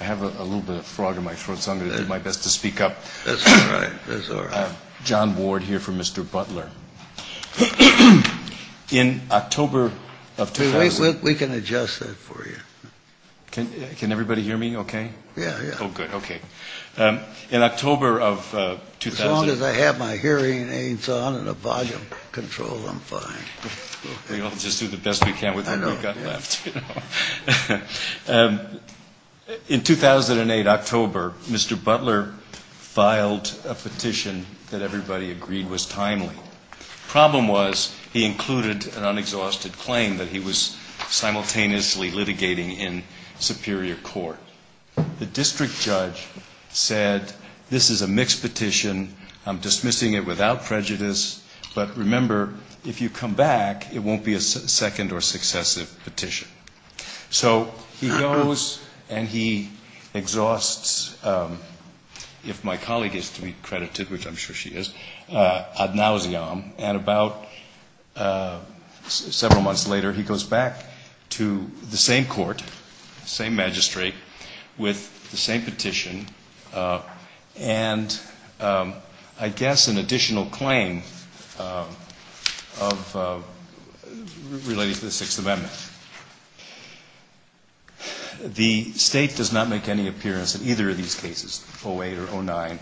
I have a little bit of a frog in my throat so I'm going to do my best to speak up. John Ward here for Mr. Butler. In October of 2000, as long as I have my hearing aids on and a volume control, I'm fine. We'll just do the best we can with what we've got left. In 2008 October, Mr. Butler filed a petition that everybody agreed was timely. Problem was, he included an unexhausted claim that he was simultaneously litigating in Superior Court. The district judge said, this is a mixed petition, I'm dismissing it without prejudice, but remember if you come back it won't be a second or successive petition. So he goes and he exhausts, if my colleague is to be credited, which I'm sure she is, ad nauseum, and about several months later he goes back to the same court, same magistrate, with the same petition and I guess an additional claim relating to the Sixth Amendment. The State does not make any appearance in either of these cases, 08 or 09.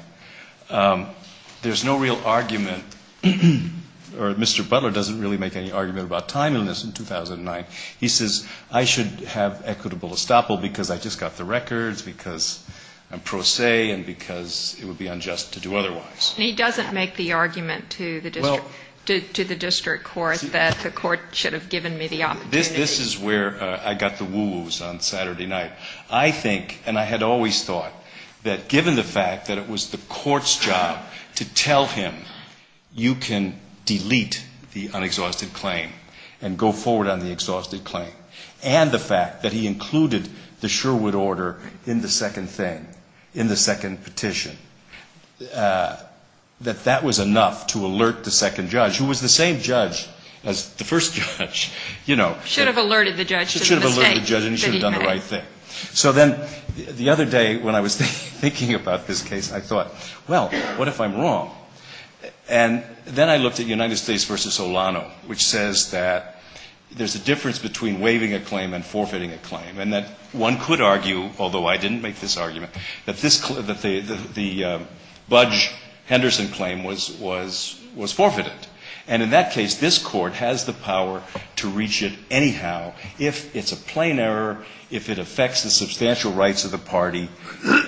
There's no real argument, or Mr. Butler doesn't really make any argument about timeliness in 2009. He says, I should have equitable estoppel because I just got the records, because I'm pro se, and because it would be unjust to do otherwise. And he doesn't make the argument to the district court that the court should have given me the opportunity. This is where I got the woo-woos on Saturday night. I think, and I had always thought, that given the fact that it was the court's job to tell him, you can delete the unexhausted claim and go forward on the exhausted claim, and the fact that he included the Sherwood order in the second thing, in the second petition, that that was enough to alert the second judge, who was the same judge as the first judge, you know. Should have alerted the judge. Should have alerted the judge and he should have done the right thing. So then the other day when I was thinking about this case, I thought, well, what if I'm wrong? And then I looked at United States v. Olano, which says that there's a difference between waiving a claim and forfeiting a claim, and that one could argue, although I didn't make this argument, that this, that the Budge-Henderson claim was, was forfeited. And in that case, this Court has the power to reach it anyhow, if it's a plain error, if it affects the substantial rights of the party,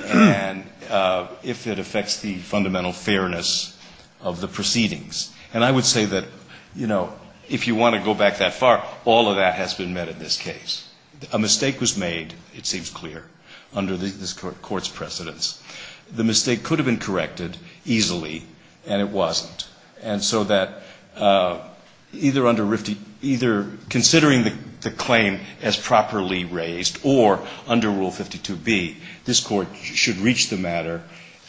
and if it affects the fundamental fairness of the proceedings. And I would say that, you know, if you want to go back that far, all of that has been met in this case. A mistake was made, it seems clear, under this Court's precedence. The mistake could have been corrected easily, and it wasn't. And so that either under Rifty, either considering the claim as properly raised, or under Rule 52B, this Court should reach the matter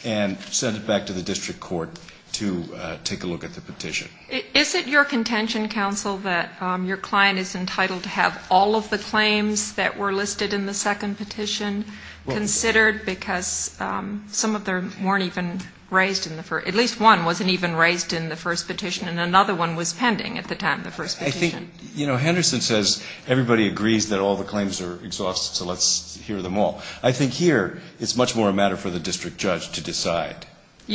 and send it back to the district court to take a look at the petition. Is it your contention, counsel, that your client is entitled to have all of the claims that were listed in the second petition considered, because some of them weren't even raised in the first, at least one wasn't even raised in the first petition, and another one was pending at the time of the first petition? I think, you know, Henderson says, everybody agrees that all the claims are exhausted, so let's hear them all. I think here, it's much more a matter for the district judge to decide.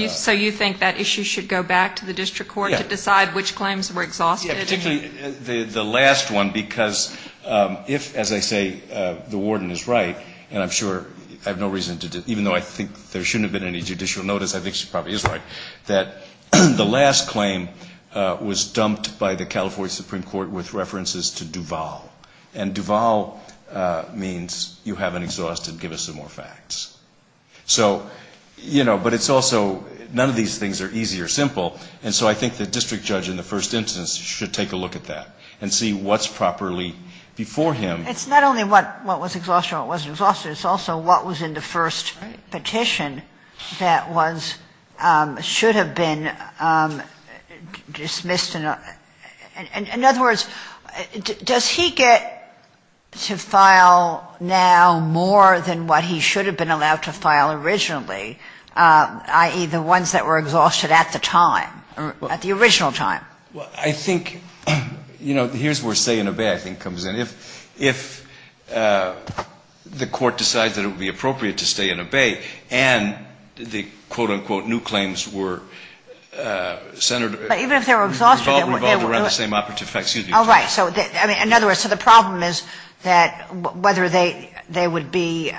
So you think that issue should go back to the district court to decide which claims were exhausted? Yeah, particularly the last one, because if, as I say, the warden is right, and I'm sure I have no reason to, even though I think there shouldn't have been any judicial notice, I think she probably is right, that the last claim was dumped by the California Supreme Court with references to Duval. And Duval means you haven't exhausted, give us some more facts. So you know, but it's also, none of these things are easy or simple, and so I think the district judge in the first instance should take a look at that and see what's properly before him. It's not only what was exhausted and what wasn't exhausted, it's also what was in the first petition that was, should have been dismissed, and in other words, does he get to file now more than what he should have been allowed to file originally, i.e., the ones that were exhausted at the time, at the original time? I think, you know, here's where say and obey, I think, comes in. If the court decides that it would be appropriate to stay and obey, and the, quote, unquote, new claims were centered, revolved around the same operative facts, excuse me. Oh, right. So in other words, so the problem is that whether they would be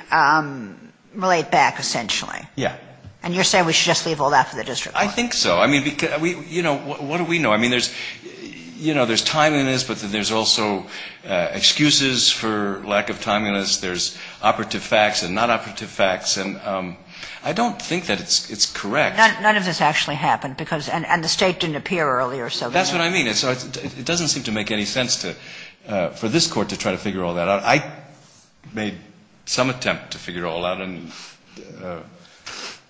laid back, essentially. Yeah. And you're saying we should just leave all that for the district court? I think so. I mean, you know, what do we know? I mean, there's, you know, there's timeliness, but then there's also excuses for lack of timeliness. There's operative facts and non-operative facts, and I don't think that it's correct. None of this actually happened, because, and the State didn't appear earlier, so. That's what I mean. It doesn't seem to make any sense to, for this Court to try to figure all that out. I made some attempt to figure it all out and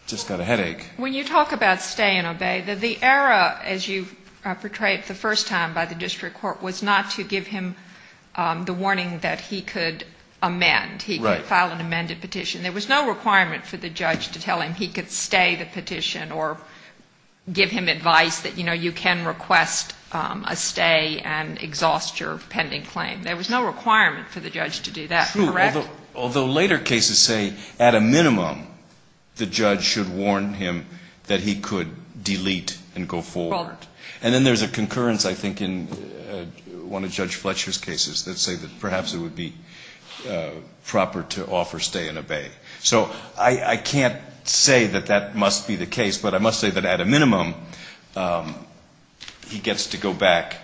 just got a headache. When you talk about stay and obey, the error, as you portrayed it the first time by the district court, was not to give him the warning that he could amend, he could file an amended petition. Right. There was no requirement for the judge to tell him he could stay the petition or give him advice that, you know, you can request a stay and exhaust your pending claim. There was no requirement for the judge to do that, correct? Although later cases say, at a minimum, the judge should warn him that he could delete and go forward. And then there's a concurrence, I think, in one of Judge Fletcher's cases that say that perhaps it would be proper to offer stay and obey. So I can't say that that must be the case, but I must say that at a minimum, he gets to go back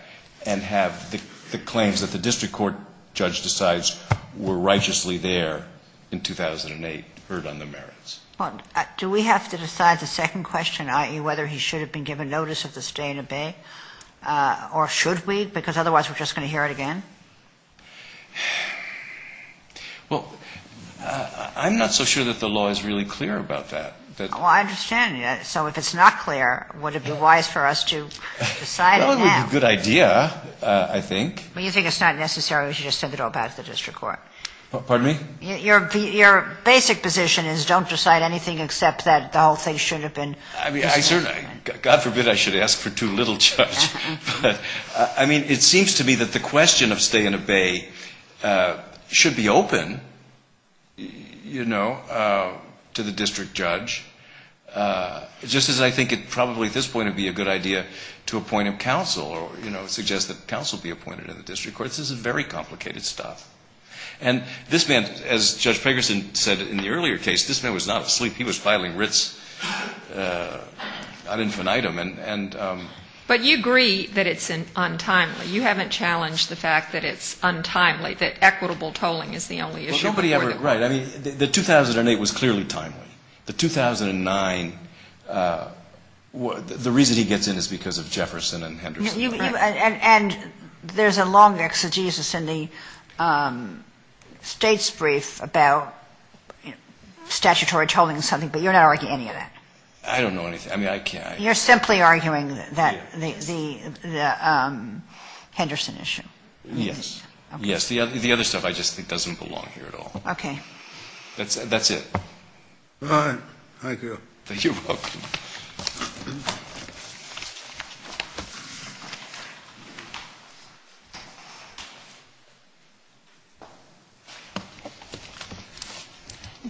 and have the claims that the district court judge decides were righteously there in 2008 heard on the merits. Do we have to decide the second question, i.e., whether he should have been given notice of the stay and obey? Or should we? Because otherwise we're just going to hear it again. Well, I'm not so sure that the law is really clear about that. Well, I understand. So if it's not clear, would it be wise for us to decide it now? That would be a good idea, I think. But you think it's not necessary, we should just send it all back to the district court? Pardon me? Your basic position is don't decide anything except that the whole thing should have been decided. I mean, I certainly, God forbid I should ask for too little, Judge. I mean, it seems to me that the question of stay and obey should be open, you know, to the district judge, just as I think it probably at this point would be a good idea to appoint a counsel or, you know, suggest that counsel be appointed in the district court. This is very complicated stuff. And this man, as Judge Pegerson said in the earlier case, this man was not asleep. He was filing writs ad infinitum. But you agree that it's untimely. You haven't challenged the fact that it's untimely, that equitable tolling is the only issue before the court. Well, nobody ever, right. I mean, the 2008 was clearly timely. The 2009, the reason he gets in is because of Jefferson and Henderson. And there's a long exegesis in the state's brief about statutory tolling and something, but you're not arguing any of that. I don't know anything. I mean, I can't. You're simply arguing that the Henderson issue. Yes. Yes. The other stuff I just think doesn't belong here at all. Okay. That's it. All right. Thank you. You're welcome.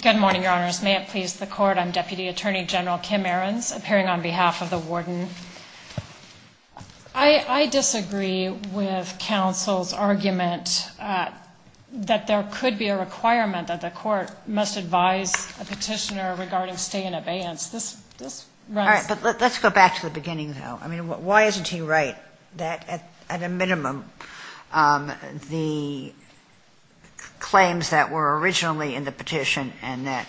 Good morning, Your Honors. May it please the court. I'm Deputy Attorney General Kim Ahrens, appearing on behalf of the warden. I disagree with counsel's argument that there could be a requirement that the court must advise a petitioner regarding stay in abeyance. This runs. All right. But let's go back to the beginning, though. I mean, why isn't he right that at a minimum the claims that were originally in the petition and that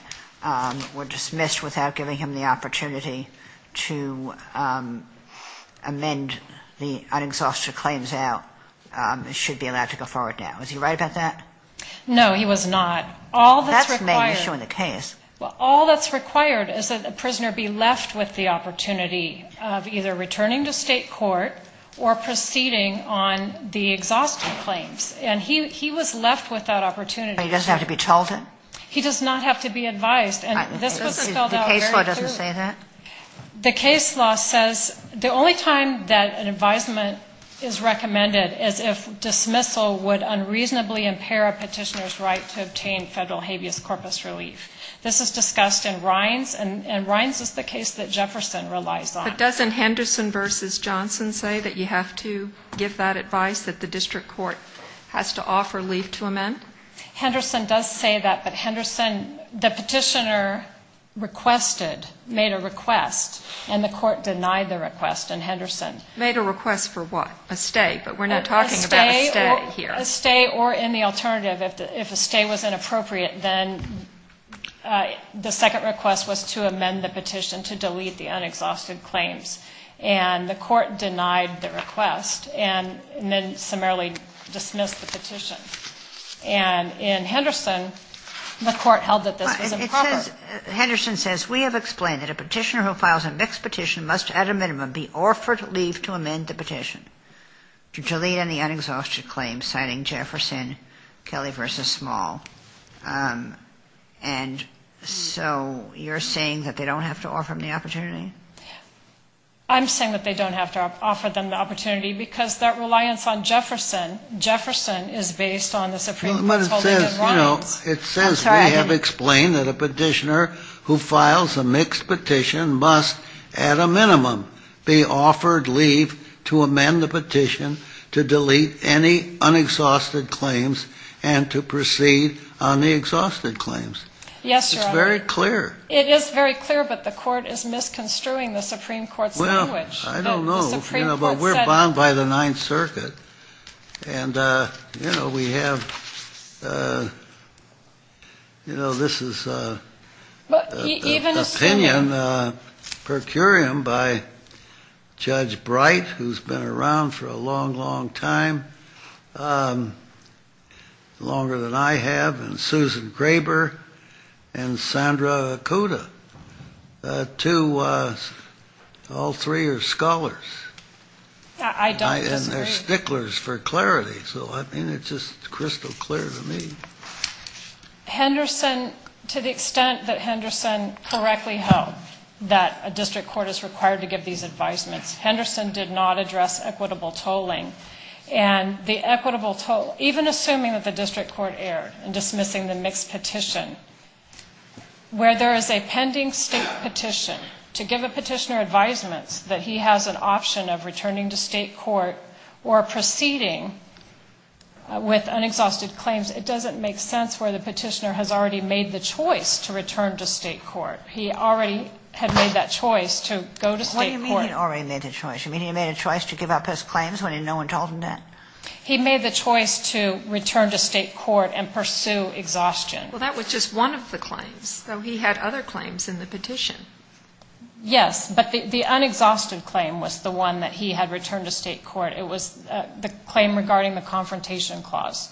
were dismissed without giving him the opportunity to amend the un-exhausted claims out should be allowed to go forward now? Is he right about that? No, he was not. All that's required. That's the main issue in the case. Well, all that's required is that a prisoner be left with the opportunity of either returning to state court or proceeding on the exhausted claims. And he was left with that opportunity. But he doesn't have to be told it? He does not have to be advised. And this was spelled out very clearly. The case law doesn't say that? The case law says the only time that an advisement is recommended is if dismissal would unreasonably impair a petitioner's right to obtain federal habeas corpus relief. This is discussed in Rines, and Rines is the case that Jefferson relies on. But doesn't Henderson v. Johnson say that you have to give that advice, that the district court has to offer leave to amend? Henderson does say that, but Henderson, the petitioner requested, made a request, and the court denied the request in Henderson. Made a request for what? A stay? But we're not talking about a stay here. A stay or in the alternative, if a stay was inappropriate, then the second request was to amend the petition to delete the unexhausted claims. And the court denied the request and then summarily dismissed the petition. And in Henderson, the court held that this was improper. Henderson says, we have explained that a petitioner who files a mixed petition must at a minimum be offered leave to amend the petition to delete any unexhausted claims, citing Jefferson, Kelly v. Small. And so you're saying that they don't have to offer him the opportunity? I'm saying that they don't have to offer them the opportunity because that reliance on Jefferson, Jefferson is based on the Supreme Court's holding of Ryan's. It says, we have explained that a petitioner who files a mixed petition must at a minimum be offered leave to amend the petition to delete any unexhausted claims and to proceed on the exhausted claims. Yes, Your Honor. It's very clear. It is very clear, but the court is misconstruing the Supreme Court's language. Well, I don't know, but we're bound by the Ninth Circuit. And you know, we have, you know, this is an opinion per curiam by Judge Bright, who's been around for a long, long time, longer than I have. And Susan Graber and Sandra Kuda, all three are scholars. I don't disagree. And they're sticklers for clarity, so I mean, it's just crystal clear to me. Henderson, to the extent that Henderson correctly held that a district court is required to give these advisements, Henderson did not address equitable tolling. And the equitable toll, even assuming that the district court erred in dismissing the mixed petition, where there is a pending state petition, to give a petitioner advisements that he has an option of returning to state court or proceeding with unexhausted claims, it doesn't make sense where the petitioner has already made the choice to return to state court. He already had made that choice to go to state court. What do you mean he already made the choice? You mean he made a choice to give up his claims when no one told him that? He made the choice to return to state court and pursue exhaustion. Well, that was just one of the claims, though he had other claims in the petition. Yes, but the unexhausted claim was the one that he had returned to state court. It was the claim regarding the confrontation clause.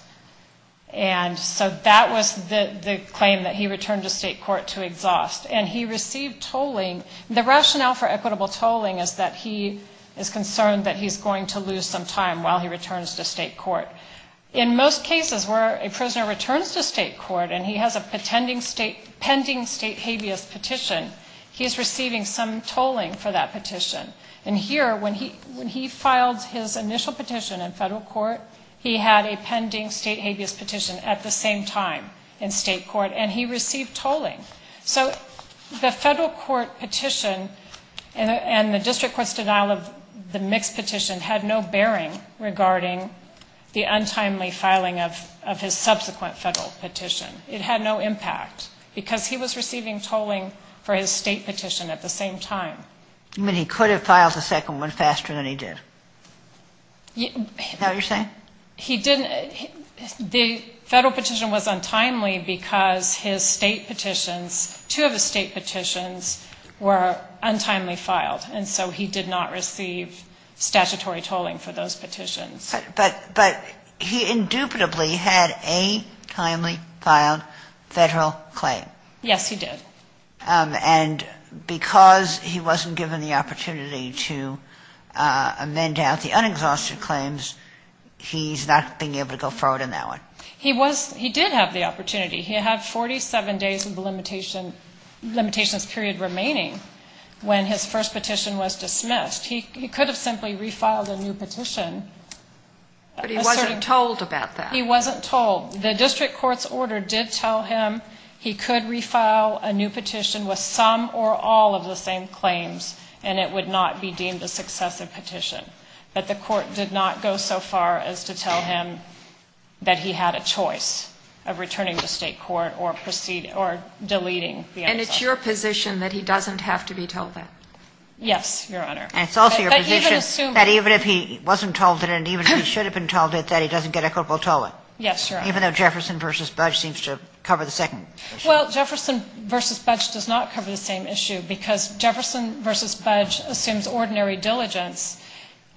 And so that was the claim that he returned to state court to exhaust. And he received tolling. The rationale for equitable tolling is that he is concerned that he's going to lose some time while he returns to state court. In most cases where a prisoner returns to state court and he has a pending state habeas petition, he is receiving some tolling for that petition. And here, when he filed his initial petition in federal court, he had a pending state habeas petition at the same time in state court, and he received tolling. So the federal court petition and the district court's denial of the mixed petition had no bearing regarding the untimely filing of his subsequent federal petition. It had no impact because he was receiving tolling for his state petition at the same time. You mean he could have filed a second one faster than he did? Is that what you're saying? He didn't. The federal petition was untimely because his state petitions, two of his state petitions, were untimely filed. And so he did not receive statutory tolling for those petitions. But he indubitably had a timely filed federal claim. Yes, he did. And because he wasn't given the opportunity to amend out the unexhausted claims, he's not being able to go forward on that one. He did have the opportunity. He had 47 days of limitations period remaining when his first petition was dismissed. He could have simply refiled a new petition. But he wasn't told about that. He wasn't told. The district court's order did tell him he could refile a new petition with some or all of the same claims, and it would not be deemed a successive petition. But the court did not go so far as to tell him that he had a choice of returning to state court or deleting the unexhausted. And it's your position that he doesn't have to be tolled then? Yes, Your Honor. And it's also your position that even if he wasn't told it, and even if he should have been told it, that he doesn't get a corporal tolling? Yes, Your Honor. Even though Jefferson v. Budge seems to cover the second issue? Well, Jefferson v. Budge does not cover the same issue because Jefferson v. Budge assumes ordinary diligence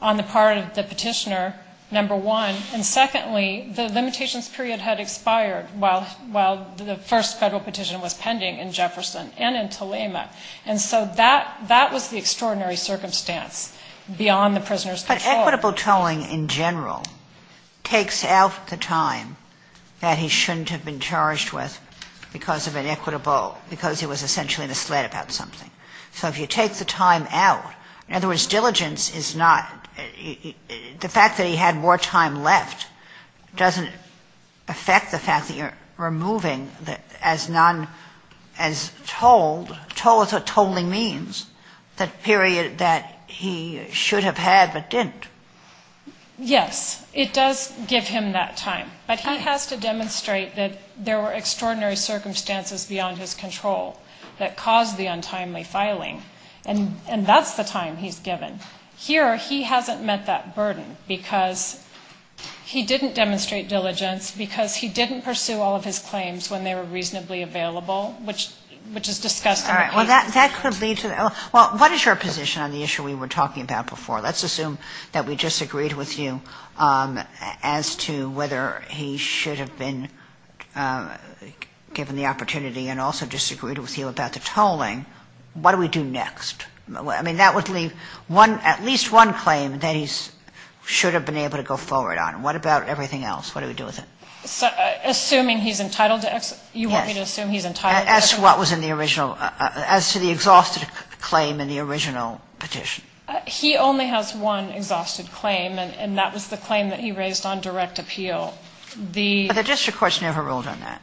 on the part of the petitioner, number one. And secondly, the limitations period had expired while the first federal petition was pending in Jefferson and in Telema. And so that was the extraordinary circumstance beyond the prisoner's control. Inequitable tolling in general takes out the time that he shouldn't have been charged with because of inequitable, because he was essentially misled about something. So if you take the time out, in other words, diligence is not, the fact that he had more time left doesn't affect the fact that you're removing as non, as tolled, tolling means that period that he should have had but didn't. Yes, it does give him that time, but he has to demonstrate that there were extraordinary circumstances beyond his control that caused the untimely filing. And that's the time he's given. Here, he hasn't met that burden because he didn't demonstrate diligence, because he didn't pursue all of his claims when they were reasonably available, which is discussed. Well, that could lead to, well, what is your position on the issue we were talking about before? Let's assume that we disagreed with you as to whether he should have been given the opportunity and also disagreed with you about the tolling. What do we do next? I mean, that would leave one, at least one claim that he should have been able to go forward on. What about everything else? What do we do with it? Assuming he's entitled to, you want me to assume he's entitled to? As to what was in the original, as to the exhausted claim in the original petition. He only has one exhausted claim, and that was the claim that he raised on direct appeal. But the district courts never ruled on that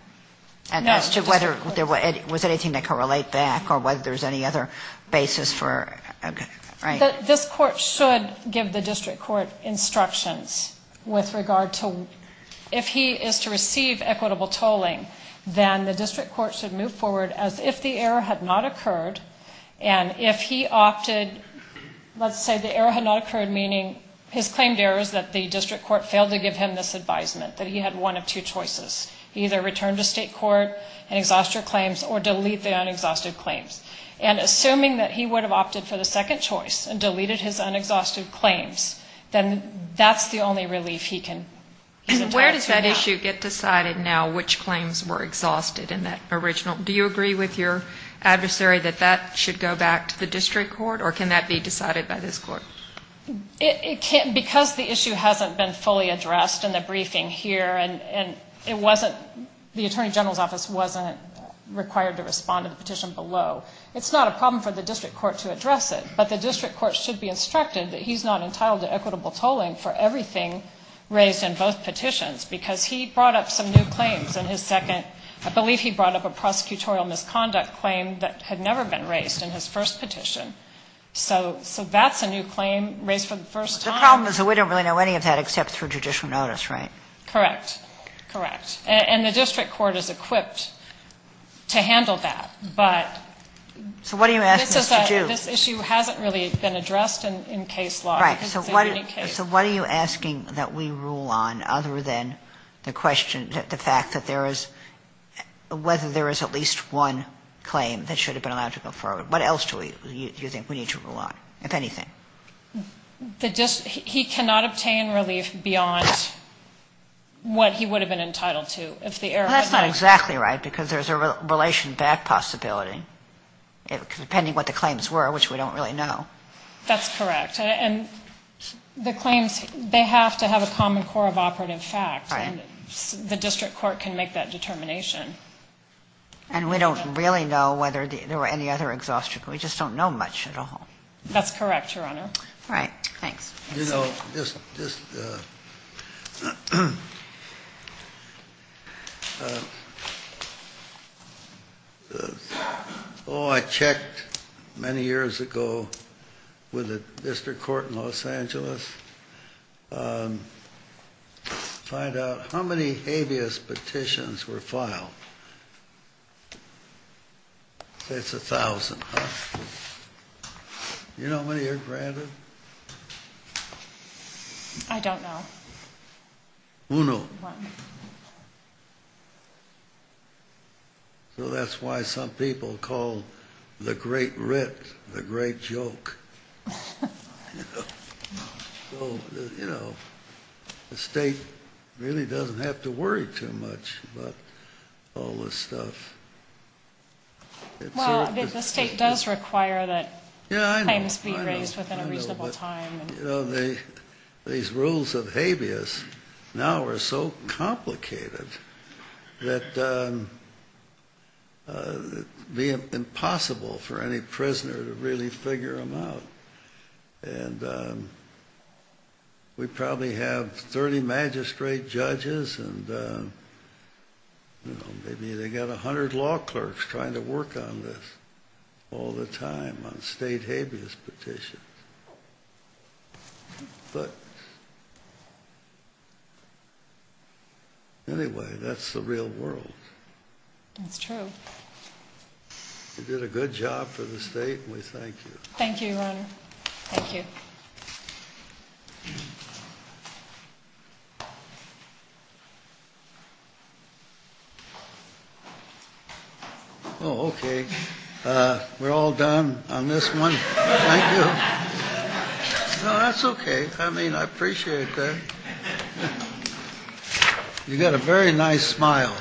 as to whether there was anything that could relate back or whether there's any other basis for, right? This court should give the district court instructions with regard to if he is to receive equitable tolling, then the district court should move forward as if the error had not occurred. And if he opted, let's say the error had not occurred, meaning his claimed error is that the district court failed to give him this advisement that he had one of two choices. He either returned to state court and exhaust your claims or delete the unexhausted claims. And assuming that he would have opted for the second choice and deleted his unexhausted claims, then that's the only relief he can. Where does that issue get decided now, which claims were exhausted in that original? Do you agree with your adversary that that should go back to the district court or can that be decided by this court? Because the issue hasn't been fully addressed in the briefing here and it wasn't, the attorney general's office wasn't required to respond to the petition below. It's not a problem for the district court to address it, but the district court should be in both petitions because he brought up some new claims in his second, I believe he brought up a prosecutorial misconduct claim that had never been raised in his first petition. So, so that's a new claim raised for the first time. The problem is that we don't really know any of that except through judicial notice, right? Correct. Correct. And the district court is equipped to handle that. But. So what are you asking us to do? This issue hasn't really been addressed in case law. Right. So what, so what are you asking that we rule on other than the question, the fact that there is, whether there is at least one claim that should have been allowed to go forward? What else do you think we need to rule on, if anything? The district, he cannot obtain relief beyond what he would have been entitled to if the error. That's not exactly right because there's a relation back possibility, depending what the claims were, which we don't really know. That's correct. And the claims, they have to have a common core of operative facts and the district court can make that determination. And we don't really know whether there were any other exhaustion. We just don't know much at all. That's correct, Your Honor. All right. Thanks. You know, just, just. Oh, I checked many years ago with the district court in Los Angeles. Find out how many habeas petitions were filed. It's a thousand. You know, many are granted. I don't know. Uno. So that's why some people call the great writ the great joke. So, you know, the state really doesn't have to worry too much, but all this stuff. Well, the state does require that. Yeah, I must be raised within a reasonable time. You know, the, these rules of habeas now are so complicated that it'd be impossible for any prisoner to really figure them out. And we probably have 30 magistrate judges and, you know, maybe they got a hundred law clerks trying to work on this all the time on state habeas petitions. But anyway, that's the real world. That's true. You did a good job for the state. We thank you. Thank you, Your Honor. Thank you. Oh, okay. Uh, we're all done on this one. That's okay. I mean, I appreciate that. You got a very nice smile.